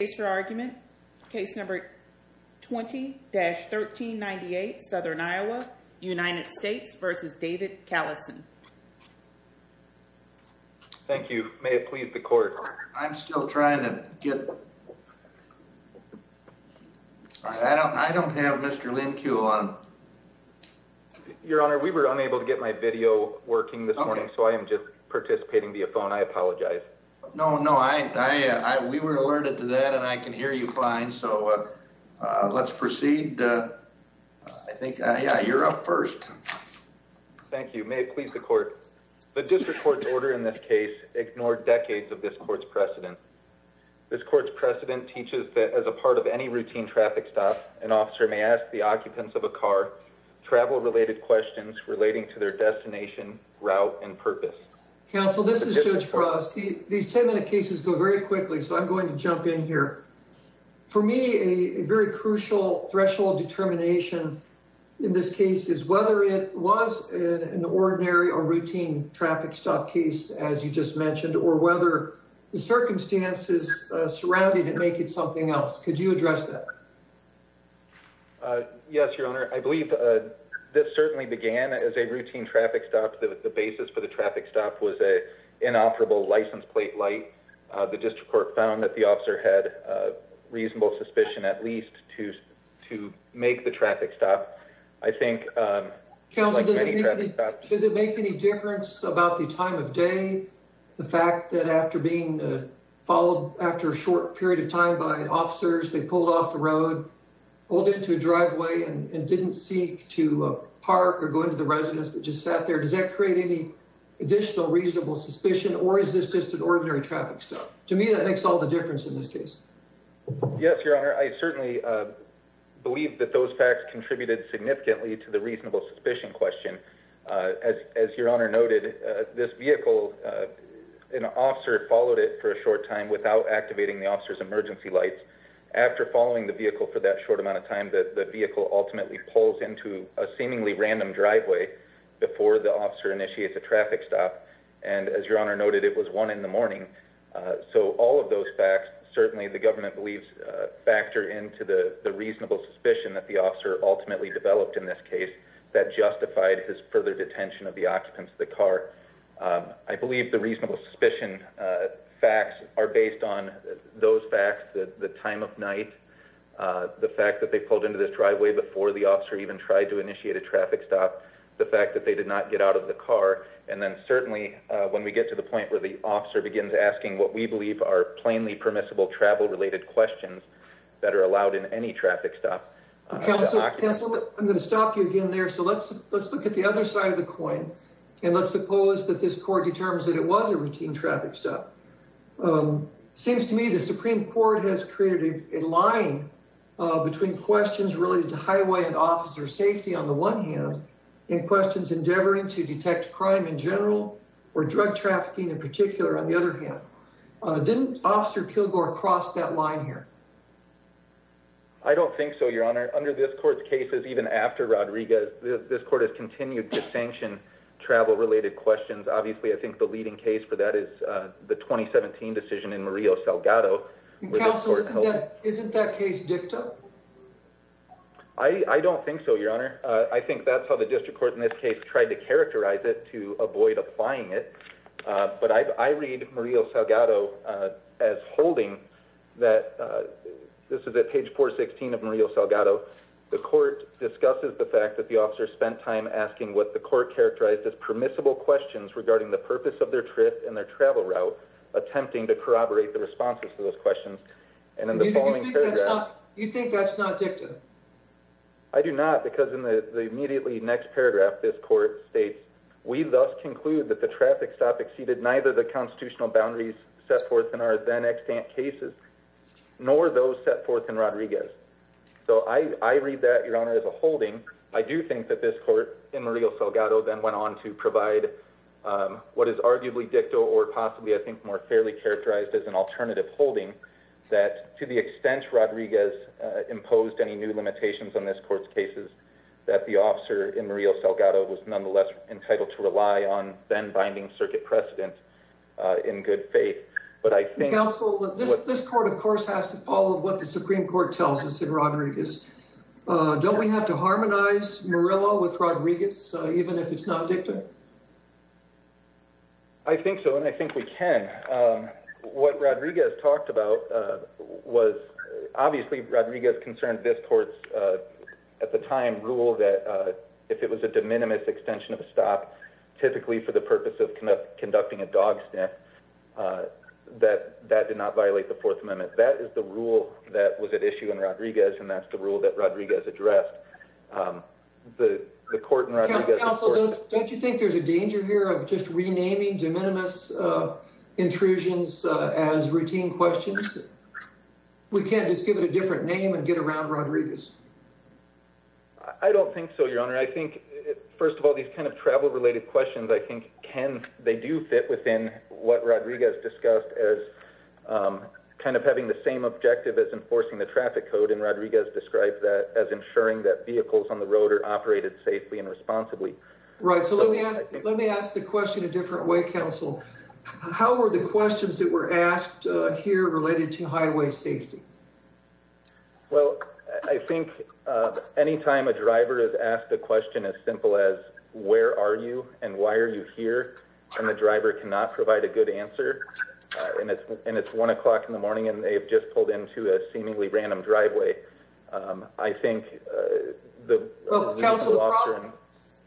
Thank you. May it please the court. I'm still trying to get... I don't have Mr. Lincu on. Your Honor, we were unable to get my video working this morning, so I am just participating via phone. I apologize. No, no, we were alerted to that, and I can hear you fine, so let's proceed. I think, yeah, you're up first. Thank you. May it please the court. The district court's order in this case ignored decades of this court's precedent. This court's precedent teaches that as a part of any routine traffic stop, an officer may ask the occupants of a car travel-related questions relating to their destination, route, and purpose. Counsel, this is Judge Frost. These 10-minute cases go very quickly, so I'm going to jump in here. For me, a very crucial threshold determination in this case is whether it was an ordinary or routine traffic stop case, as you just mentioned, or whether the circumstances surrounding it make it something else. Could you address that? Yes, Your Honor. I believe this certainly began as a routine traffic stop. The basis for the traffic stop was an inoperable license plate light. The district court found that the officer had reasonable suspicion, at least, to make the traffic stop. I think, like many traffic stops... Counsel, does it make any difference about the time of day, the fact that after being followed after a short period of time by officers, they pulled off the road, pulled into a driveway and didn't seek to park or go into the residence, just sat there? Does that create any additional reasonable suspicion, or is this just an ordinary traffic stop? To me, that makes all the difference in this case. Yes, Your Honor. I certainly believe that those facts contributed significantly to the reasonable suspicion question. As Your Honor noted, this vehicle, an officer followed it for a short time without activating the officer's emergency lights. After following the vehicle for that short amount of time, the vehicle ultimately pulls into a seemingly random driveway before the officer initiates a traffic stop. As Your Honor noted, it was one in the morning. All of those facts, certainly, the government believes, factor into the reasonable suspicion that the officer ultimately developed in this case that justified his further detention of the occupants of the car. I believe the reasonable suspicion facts are based on those facts, the time of night, the fact that they pulled into this driveway before the officer even tried to initiate a traffic stop, the fact that they did not get out of the car, and then certainly when we get to the point where the officer begins asking what we believe are plainly permissible travel-related questions that are allowed in any traffic stop. Counsel, I'm going to stop you again there, so let's look at the other side of the coin, and let's suppose that this court determines that it was a routine traffic stop. It seems to me the Supreme Court has created a line between questions related to highway and officer safety on the one hand, and questions endeavoring to detect crime in general, or drug trafficking in particular, on the other hand. Didn't Officer Kilgore cross that line here? I don't think so, Your Honor. Under this court's cases, even after Rodriguez, this court has continued to sanction travel-related questions. Obviously, I think the leading case for that is the 2017 decision in Murillo-Salgado. Counsel, isn't that case dicta? I don't think so, Your Honor. I think that's how the district court in this case tried to characterize it to avoid applying it, but I read Murillo-Salgado as holding that, this is at page 416 of Murillo-Salgado, the court discusses the fact that the officer spent time asking what the court characterized as permissible questions regarding the purpose of their trip and their travel route, attempting to corroborate the responses to those questions. You think that's not dicta? I do not, because in the immediately next paragraph, this court states, we thus conclude that the traffic stop exceeded neither the constitutional boundaries set forth in our then extant cases, nor those set forth in Rodriguez. So I read that, Your Honor, as a holding. I do think that this court in Murillo-Salgado then went on to provide what is arguably dicta or possibly, I think, more fairly characterized as an alternative holding that to the extent Rodriguez imposed any new limitations on this court's cases, that the officer in Murillo-Salgado was nonetheless entitled to rely on then binding circuit precedent in good faith. Counsel, this court, of course, has to follow what the Supreme Court tells us in Rodriguez. Don't we have to harmonize Murillo with Rodriguez, even if it's not dicta? I think so, and I think we can. What Rodriguez talked about was, obviously, Rodriguez concerned this court's, at the time, rule that if it was a de minimis extension of a stop, typically for the purpose of conducting a dog sniff, that that did not violate the Fourth Amendment. And that's the rule that Rodriguez addressed. Counsel, don't you think there's a danger here of just renaming de minimis intrusions as routine questions? We can't just give it a different name and get around Rodriguez? I don't think so, Your Honor. I think, first of all, these kind of travel-related questions, I think they do fit within what Rodriguez discussed as kind of having the same objective as enforcing the traffic code, and Rodriguez described that as ensuring that vehicles on the road are operated safely and responsibly. Right. So let me ask the question a different way, Counsel. How were the questions that were asked here related to highway safety? Well, I think any time a driver is asked a question as simple as where are you and why are you here, and the driver cannot provide a good answer, and it's 1 o'clock in the morning and they've just pulled into a seemingly random driveway, I think... The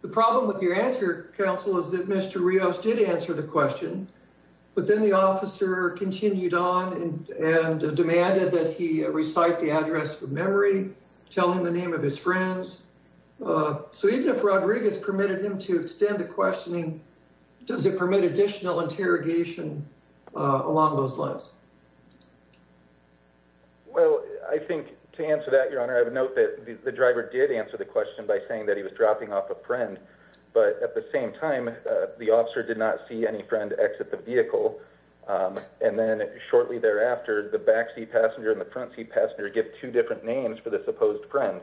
problem with your answer, Counsel, is that Mr. Rios did answer the question, but then the officer continued on and demanded that he recite the address from memory, tell him the name of his friends. So even if Rodriguez permitted him to extend the questioning, does it permit additional interrogation along those lines? Well, I think to answer that, Your Honor, I would note that the driver did answer the question by saying that he was dropping off a friend, but at the same time, the officer did not see any friend exit the vehicle, and then shortly thereafter, the backseat passenger and the frontseat passenger give two different names for this opposed friend.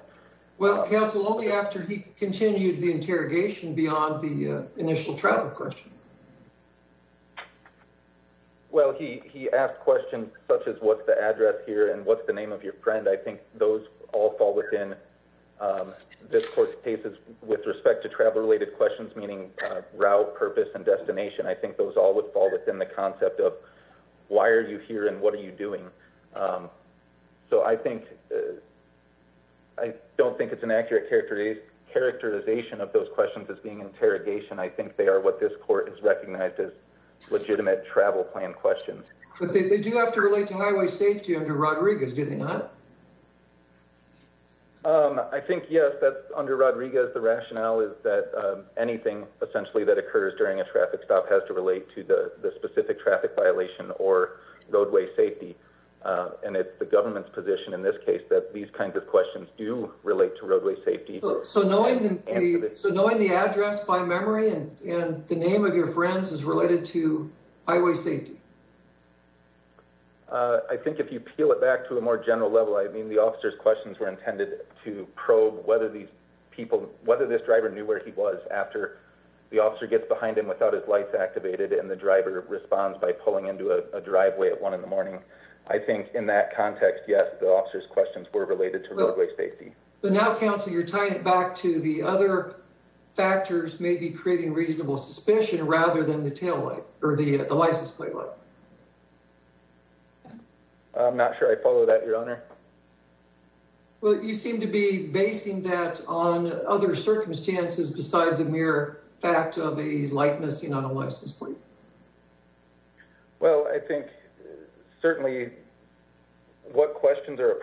Well, Counsel, only after he continued the interrogation did he ask a question. Well, he asked questions such as what's the address here and what's the name of your friend. I think those all fall within this Court's cases with respect to travel-related questions, meaning route, purpose, and destination. I think those all would fall within the concept of why are you here and what are you doing. So I think... I don't think it's an accurate characterization of those questions as being interrogation. I think they are what this Court has recognized as legitimate travel plan questions. But they do have to relate to highway safety under Rodriguez, do they not? I think, yes, that under Rodriguez, the rationale is that anything essentially that occurs during a traffic stop has to relate to the specific traffic violation or roadway safety, and it's the government's position in this case that these kinds of questions do relate to roadway safety. So knowing the address by memory and the name of your friends is related to highway safety? I think if you peel it back to a more general level, I mean, the officer's questions were intended to probe whether these people, whether this driver knew where he was after the officer gets behind him without his lights activated and the driver responds by pulling into a driveway at one in the morning. I think in that context, yes, the officer's questions were related to the other factors maybe creating reasonable suspicion rather than the tail light or the license plate light. I'm not sure I follow that, Your Honor. Well, you seem to be basing that on other circumstances beside the mere fact of a light missing on a license plate. Well, I think certainly what questions are on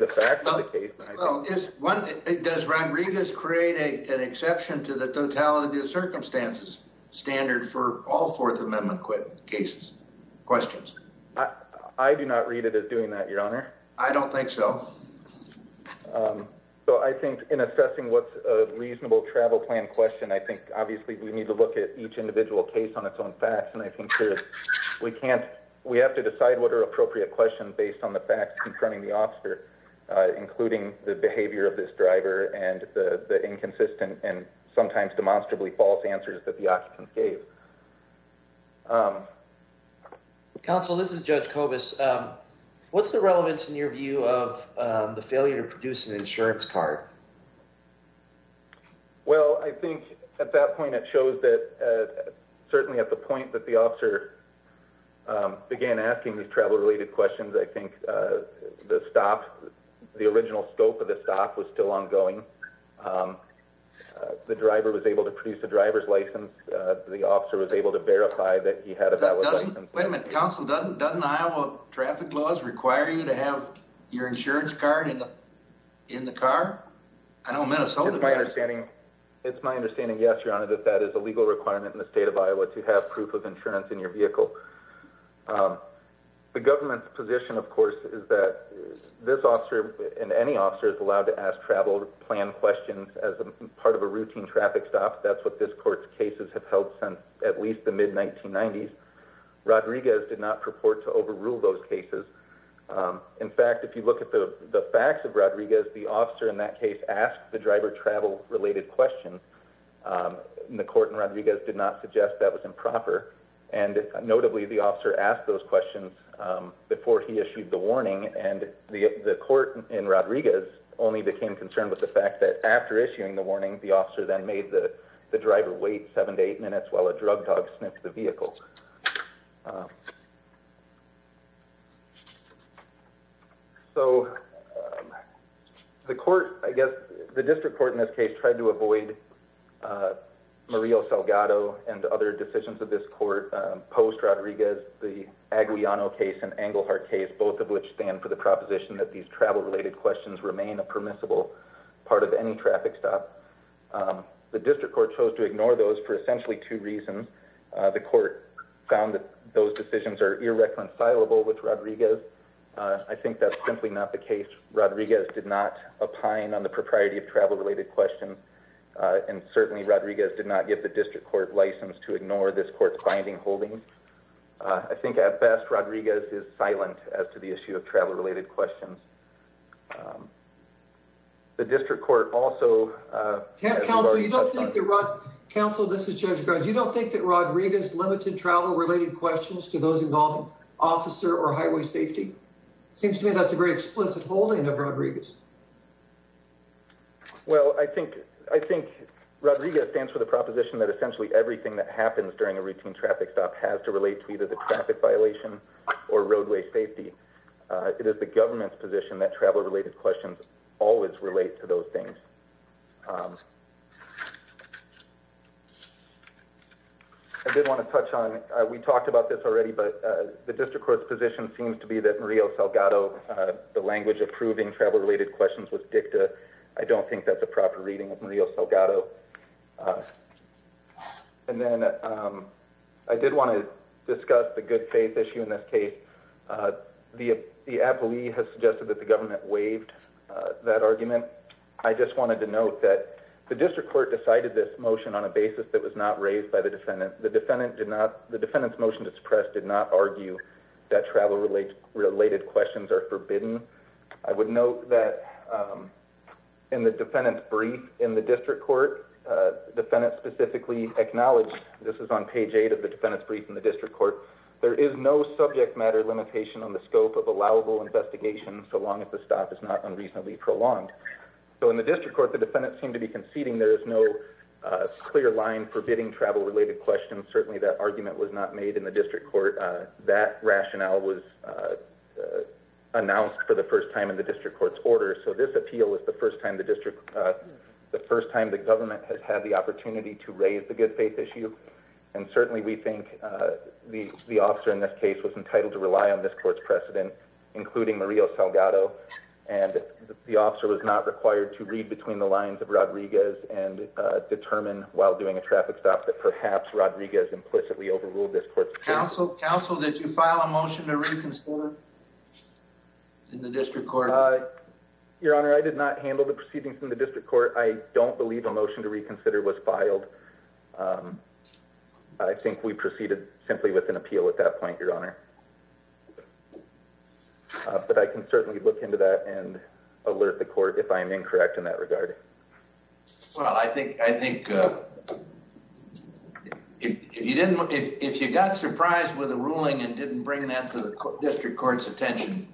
the case. Does Ron Regas create an exception to the totality of circumstances standard for all Fourth Amendment questions? I do not read it as doing that, Your Honor. I don't think so. So I think in assessing what's a reasonable travel plan question, I think obviously we need to look at each individual case on its own facts, and I think we have to decide what are facts confronting the officer, including the behavior of this driver and the inconsistent and sometimes demonstrably false answers that the occupants gave. Counsel, this is Judge Kobus. What's the relevance in your view of the failure to produce an insurance card? Well, I think at that point it shows that certainly at the point that the officer began asking these travel-related questions, I think the stop, the original scope of the stop was still ongoing. The driver was able to produce a driver's license. The officer was able to verify that he had a valid license. Wait a minute. Counsel, doesn't Iowa traffic laws require you to have your insurance card in the car? I know in Minnesota... It's my understanding, yes, Your Honor, that that is a legal requirement in the state of the vehicle. The government's position, of course, is that this officer and any officer is allowed to ask travel plan questions as part of a routine traffic stop. That's what this court's cases have held since at least the mid-1990s. Rodriguez did not purport to overrule those cases. In fact, if you look at the facts of Rodriguez, the officer in that case asked the driver travel-related questions, and the court in Rodriguez did not suggest that was improper. Notably, the officer asked those questions before he issued the warning, and the court in Rodriguez only became concerned with the fact that after issuing the warning, the officer then made the driver wait seven to eight minutes while a drug dog sniffed the vehicle. So the court, I guess the district court in this case, tried to avoid Maria Salgado and other decisions of this court post-Rodriguez, the Aguillano case and Englehart case, both of which stand for the proposition that these travel-related questions remain a permissible part of any traffic stop. The district court chose to ignore those for essentially two reasons. The court found that those decisions are irreconcilable with Rodriguez. I think that's simply not the case. Rodriguez did not opine on the propriety of travel-related questions, and certainly Rodriguez did not give the district court license to ignore this court's binding holdings. I think at best, Rodriguez is silent as to the issue of travel-related questions. The district court also... Council, you don't think that Rodriguez limited travel-related questions to those involving officer or highway safety? Seems to me that's a very explicit holding of Rodriguez. Well, I think Rodriguez stands for the proposition that essentially everything that happens during a routine traffic stop has to relate to either the traffic violation or roadway safety. It is the government's position that travel-related questions always relate to those things. I did want to touch on... We talked about this already, but the district court's position seems to be that Maria Salgado, the language approving travel-related questions with DICTA, I don't think that's a proper reading of Maria Salgado. And then I did want to discuss the good faith issue in this case. The appealee has suggested that the government waived that motion. The district court decided this motion on a basis that was not raised by the defendant. The defendant's motion to suppress did not argue that travel-related questions are forbidden. I would note that in the defendant's brief in the district court, the defendant specifically acknowledged, this is on page 8 of the defendant's brief in the district court, there is no subject matter limitation on the scope of allowable investigation so long as the stop is not reasonably prolonged. In the district court, the defendant seemed to be conceding there is no clear line forbidding travel-related questions. Certainly that argument was not made in the district court. That rationale was announced for the first time in the district court's order. So this appeal is the first time the government has had the opportunity to raise the good faith issue. And certainly we think the officer in this case was entitled to rely on this court's precedent, including Maria Salgado, and the officer was not required to read between the lines of Rodriguez and determine while doing a traffic stop that perhaps Rodriguez implicitly overruled this court's precedent. Counsel, did you file a motion to reconsider in the district court? Your Honor, I did not handle the proceedings in the district court. I don't believe a motion to reconsider was filed. I think we proceeded simply with an appeal at that point, Your Honor. But I can certainly look into that and alert the court if I am incorrect in that regard. Well, I think if you got surprised with a ruling and didn't bring that to the district court's attention,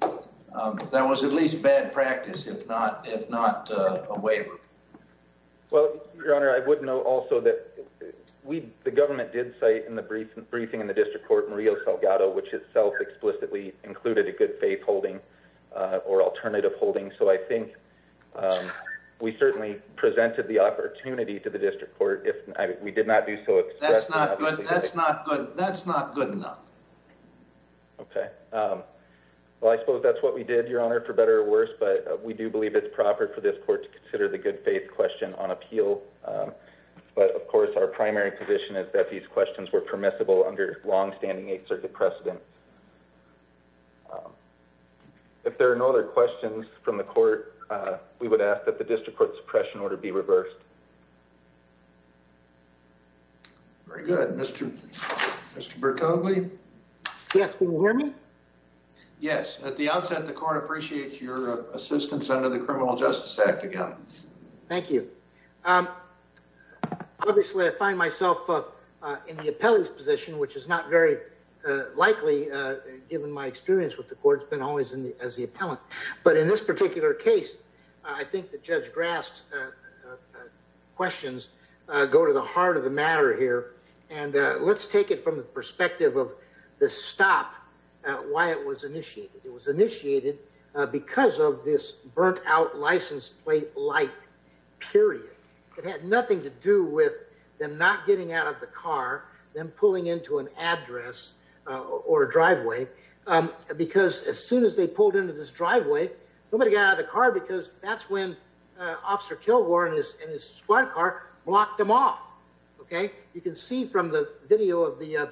that was at least bad practice, if not a waiver. Well, Your Honor, I would note also that the government did cite in the briefing in the holding or alternative holding. So I think we certainly presented the opportunity to the district court if we did not do so expressly. That's not good enough. Okay. Well, I suppose that's what we did, Your Honor, for better or worse. But we do believe it's proper for this court to consider the good faith question on appeal. But of course, our primary position is that these questions were permissible under longstanding Eighth Circuit precedent. If there are no other questions from the court, we would ask that the district court suppression order be reversed. Very good. Mr. Bertogli? Yes, can you hear me? Yes. At the onset, the court appreciates your assistance under the Criminal Justice Act again. Thank you. Um, obviously, I find myself in the appellee's position, which is not very likely, given my experience with the court's been always in the as the appellant. But in this particular case, I think the judge grasped questions go to the heart of the matter here. And let's take it from the perspective of the stop why it was initiated. It was initiated because of this burnt out license plate light period. It had nothing to do with them not getting out of the car, then pulling into an address or driveway. Because as soon as they pulled into this driveway, nobody got out of the car because that's when Officer Kilgore and his squad car blocked them off. Okay, you can see from the video of the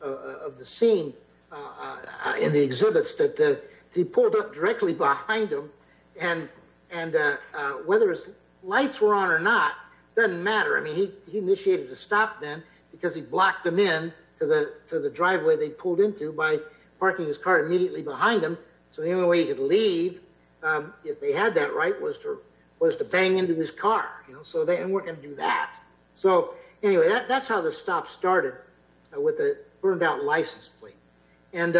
of the scene in the exhibits that he pulled up directly behind him. And, and whether it's lights were on or not, doesn't matter. I mean, he initiated to stop them, because he blocked them in to the to the driveway they pulled into by parking his car immediately behind him. So the only way he could leave, if they had that right was to was to bang into his car, you know, so they weren't going to do that. So anyway, that's how the stop started with a burned out license plate. And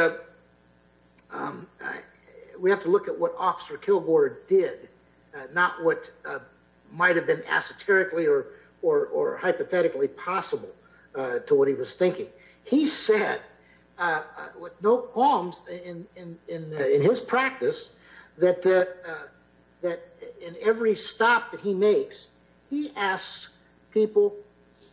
we have to look at what Officer Kilgore did, not what might have been esoterically or, or hypothetically possible to what he was thinking. He said, with no qualms in his practice, that in every stop that he makes, he asks people,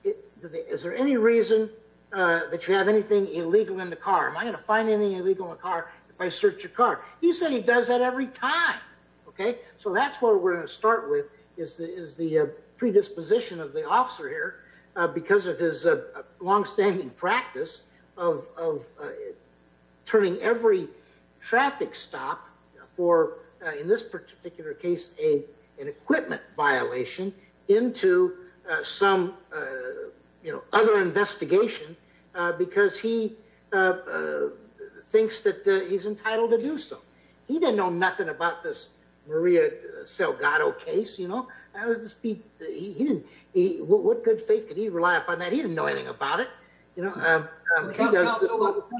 is there any reason that you have anything illegal in the car? Am I going to find anything illegal in the car if I search your car? He said he does that every time. Okay, so that's what we're going to of, of turning every traffic stop for, in this particular case, a, an equipment violation into some, you know, other investigation, because he thinks that he's entitled to do so. He didn't know nothing about this Maria Salgado case, you know. He didn't, what good faith could he rely on that? He didn't know anything about it, you know.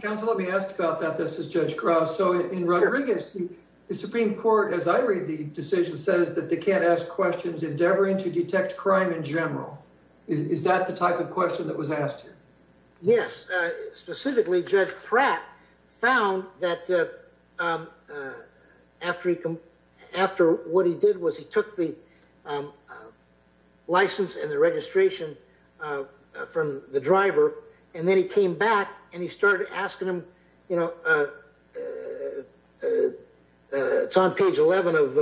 Counsel, let me ask about that. This is Judge Krause. So in Rodriguez, the Supreme Court, as I read the decision, says that they can't ask questions endeavoring to detect crime in general. Is that the type of question that was asked? Yes. Specifically, Judge Pratt found that after he, after what he did was he took the license and the registration from the driver, and then he came back and he started asking him, you know, it's on page 11 of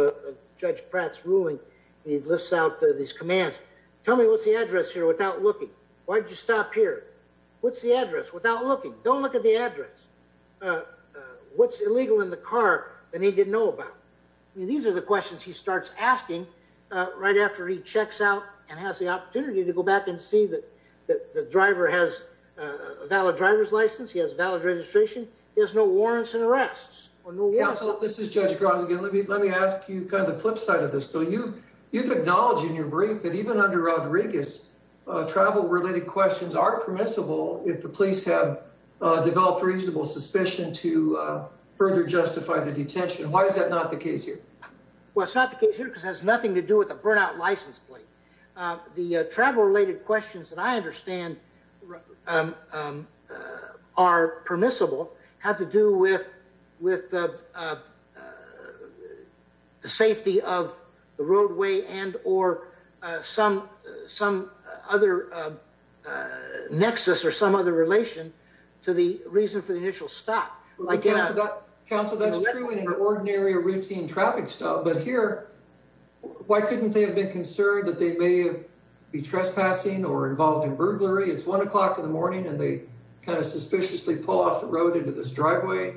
Judge Pratt's ruling. He lists out these commands. Tell me what's the address here without looking? Why did you stop here? What's the address without looking? Don't look at the address. What's illegal in the car that he didn't know about? These are the questions he starts asking right after he checks out and has the opportunity to go back and see that the driver has a valid driver's license. He has valid registration. He has no warrants and arrests. Counsel, this is Judge Krause again. Let me ask you kind of flip side of this. So you've acknowledged in your brief that even under Rodriguez, travel related questions are permissible if the police have developed reasonable suspicion to further justify the detention. Why is that not the case here? Well, it's not the case here because it has nothing to do with the burnout license plate. The travel related questions that I understand are permissible have to do with the safety of the roadway and or some other nexus or some other relation to the reason for the initial stop. Counsel, that's true in an ordinary or routine traffic stop. But here, why couldn't they have been concerned that they may be trespassing or involved in burglary? It's 1 o'clock in the morning and they kind of suspiciously pull off the road into this driveway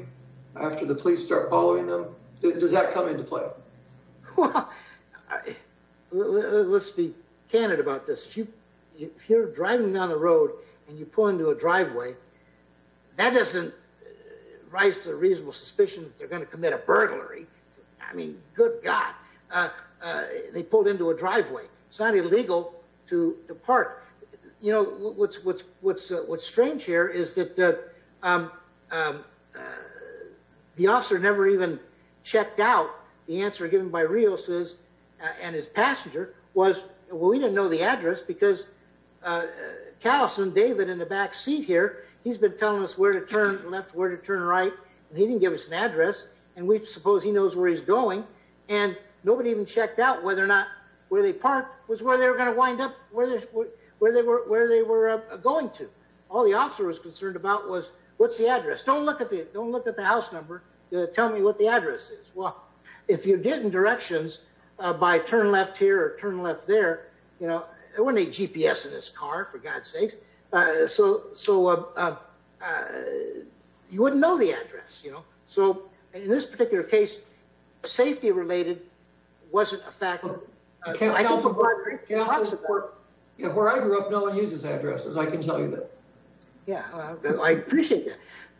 after the police start following them. Does that come into play? Let's be candid about this. If you're driving down the road and you pull into a driveway, that doesn't rise to a reasonable suspicion that they're going to commit a burglary. I mean, good God. They pulled into a driveway. It's not illegal to depart. What's strange here is that the officer never even checked out the answer given by Rios and his passenger was, well, we didn't know the address because Callison, David in the back seat here, he's been telling us where to turn left, where to turn right. And he didn't give us an address. And we suppose he knows where he's going. And nobody even checked out whether or not where they parked was where they were going to wind up, where they were going to. All the officer was concerned about was, what's the address? Don't look at the house number. Tell me what the address is. Well, if you're getting directions by turn left here or turn left there, you know, there wasn't a GPS in his car for God's sake. So you wouldn't know the address, you know. So in this particular case, safety related wasn't a factor. Where I grew up, no one uses addresses. I can tell you that. Yeah, I appreciate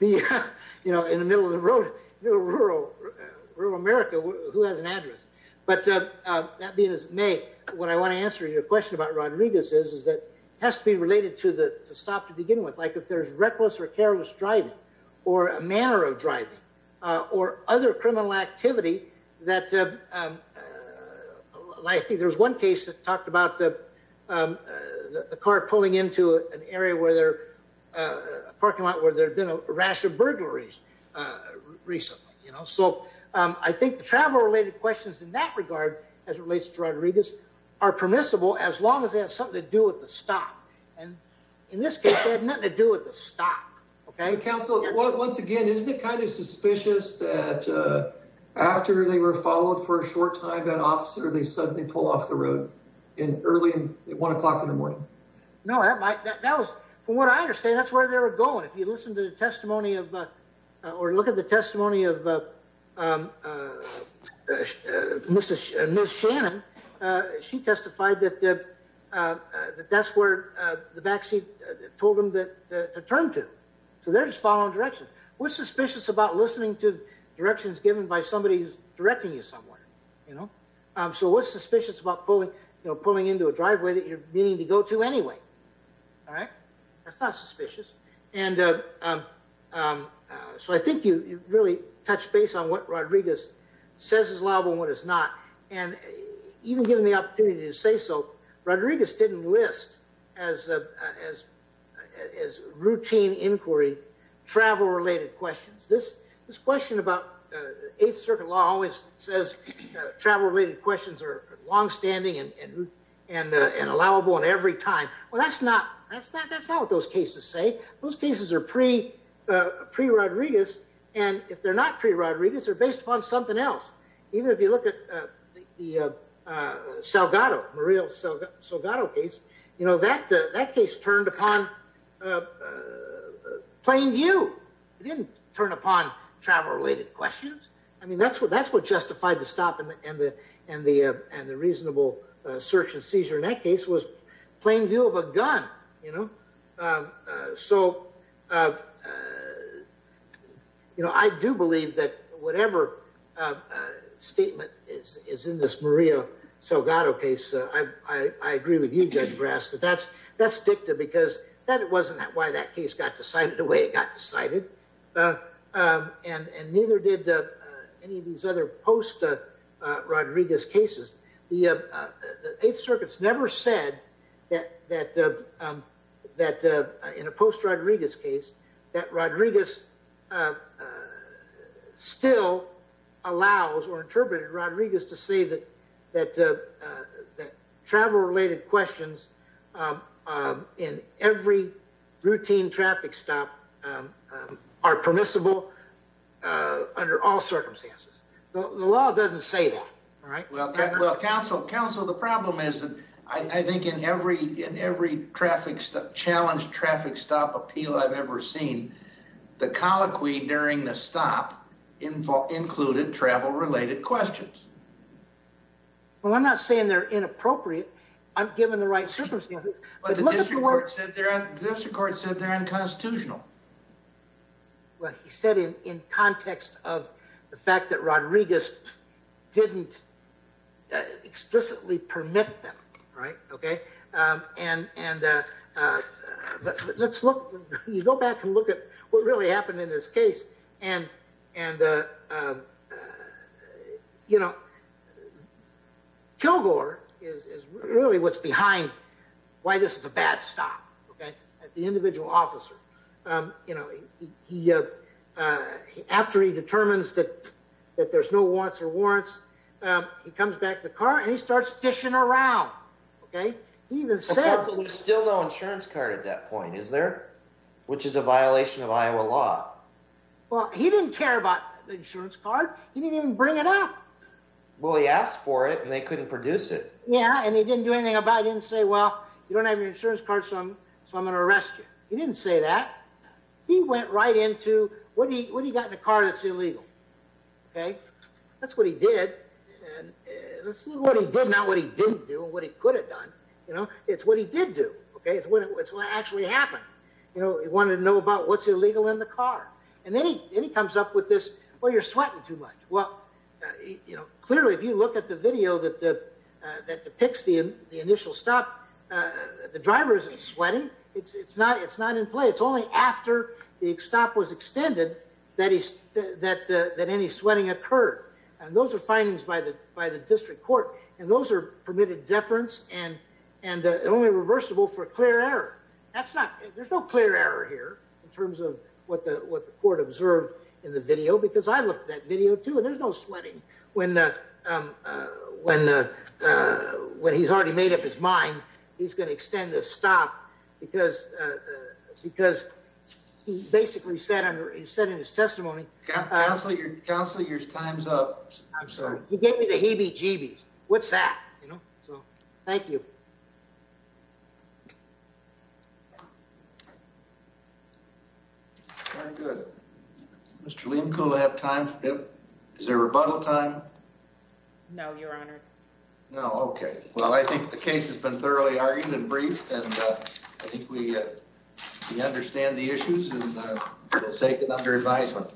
that. You know, in the middle of the road, rural America, who has an address? But that being as it may, what I want to answer your question about Rodriguez is, is that it has to be related to the stop to begin with. Like if there's reckless or careless driving or a manner of driving or other criminal activity that, I think there's one case that talked about the car pulling into an area where there, a parking lot where there had been a rash of burglaries recently, you know. So I think the travel related questions in that regard, as it relates to Rodriguez, are permissible as long as they have something to do with the stop. And in this case, they had nothing to do with the stop. Okay. Council, once again, isn't it kind of suspicious that after they were followed for a short time, that officer, they suddenly pull off the road early at one o'clock in the morning? No, that was, from what I understand, that's where they were going. If you listen to the testimony of, or look at the testimony of Ms. Shannon, she testified that that's where the backseat told them to turn to. So they're just following directions. What's suspicious about listening to directions given by somebody who's directing you somewhere, you know? So what's suspicious about pulling into a driveway that you're meaning to go to anyway? All right. That's not suspicious. And so I think you really touched base on what Rodriguez says is allowable and what is not. And even given the opportunity to say so, Rodriguez didn't list as routine inquiry, travel-related questions. This question about Eighth Circuit law always says travel-related questions are longstanding and allowable in every time. Well, that's not what those cases say. Those cases are pre-Rodriguez. And if they're not pre-Rodriguez, they're based upon something else. Even if you look at the Salgado, Muriel Salgado case, you know, that case turned upon plain view. It didn't turn upon travel-related questions. I mean, that's what justified the stop and the reasonable search and seizure in that case was plain view of a gun, you know? So, you know, I do believe that whatever statement is in this Muriel Salgado case, I agree with you, Judge Brass, that that's dicta because that wasn't why that case got decided the way it got decided. And neither did any of these other post-Rodriguez cases. The Eighth Circuit's never said that in a post-Rodriguez case that Rodriguez still allows or interpreted Rodriguez to say that travel-related questions in every routine traffic stop are permissible under all circumstances. The law doesn't say that, right? Well, counsel, the problem is that I think in every challenged traffic stop appeal I've ever seen, the colloquy during the stop included travel-related questions. Well, I'm not saying they're inappropriate. I'm giving the right circumstances. But the district court said they're unconstitutional. Well, he said it in context of the fact that Rodriguez didn't explicitly permit them, right? Okay. And let's look, you go back and look at what really happened in this case. And, you know, Kilgore is really what's behind why this is a bad stop, okay, at the individual officer. You know, after he determines that there's no warrants or warrants, he comes back to the car and he starts fishing around, okay? He even said- There's still no insurance card at that point, is there? Which is a violation of Iowa law. Well, he didn't care about the insurance card. He didn't even bring it up. Well, he asked for it and they couldn't produce it. Yeah, and he didn't do anything about it. He didn't say, well, you don't have your insurance card, so I'm going to arrest you. He didn't say that. He went right into what he got in the car that's illegal, okay? That's what he did. And let's see what he did, not what he didn't do, and what he could have done, you know? It's what he did do, okay? It's what actually happened. You know, he wanted to know about what's illegal in the car. And then he comes up with this, well, you're sweating too much. Well, you know, clearly, if you look at the video that depicts the initial stop, the driver isn't sweating. It's not in play. It's only after the stop was extended that any sweating occurred. And those are findings by the district court, and those are permitted deference and only reversible for clear error. There's no clear error here in terms of what the court observed in the video, because I looked at that video too, there's no sweating. When he's already made up his mind, he's going to extend the stop, because he basically said in his testimony- Councilor, your time's up. I'm sorry. He gave me the heebie-jeebies. What's that, you know? So, thank you. All right, good. Mr. Lehmkuhle, do I have time for- is there rebuttal time? No, your honor. No, okay. Well, I think the case has been thoroughly argued and briefed, and I think we understand the issues, and we'll take it under advisement.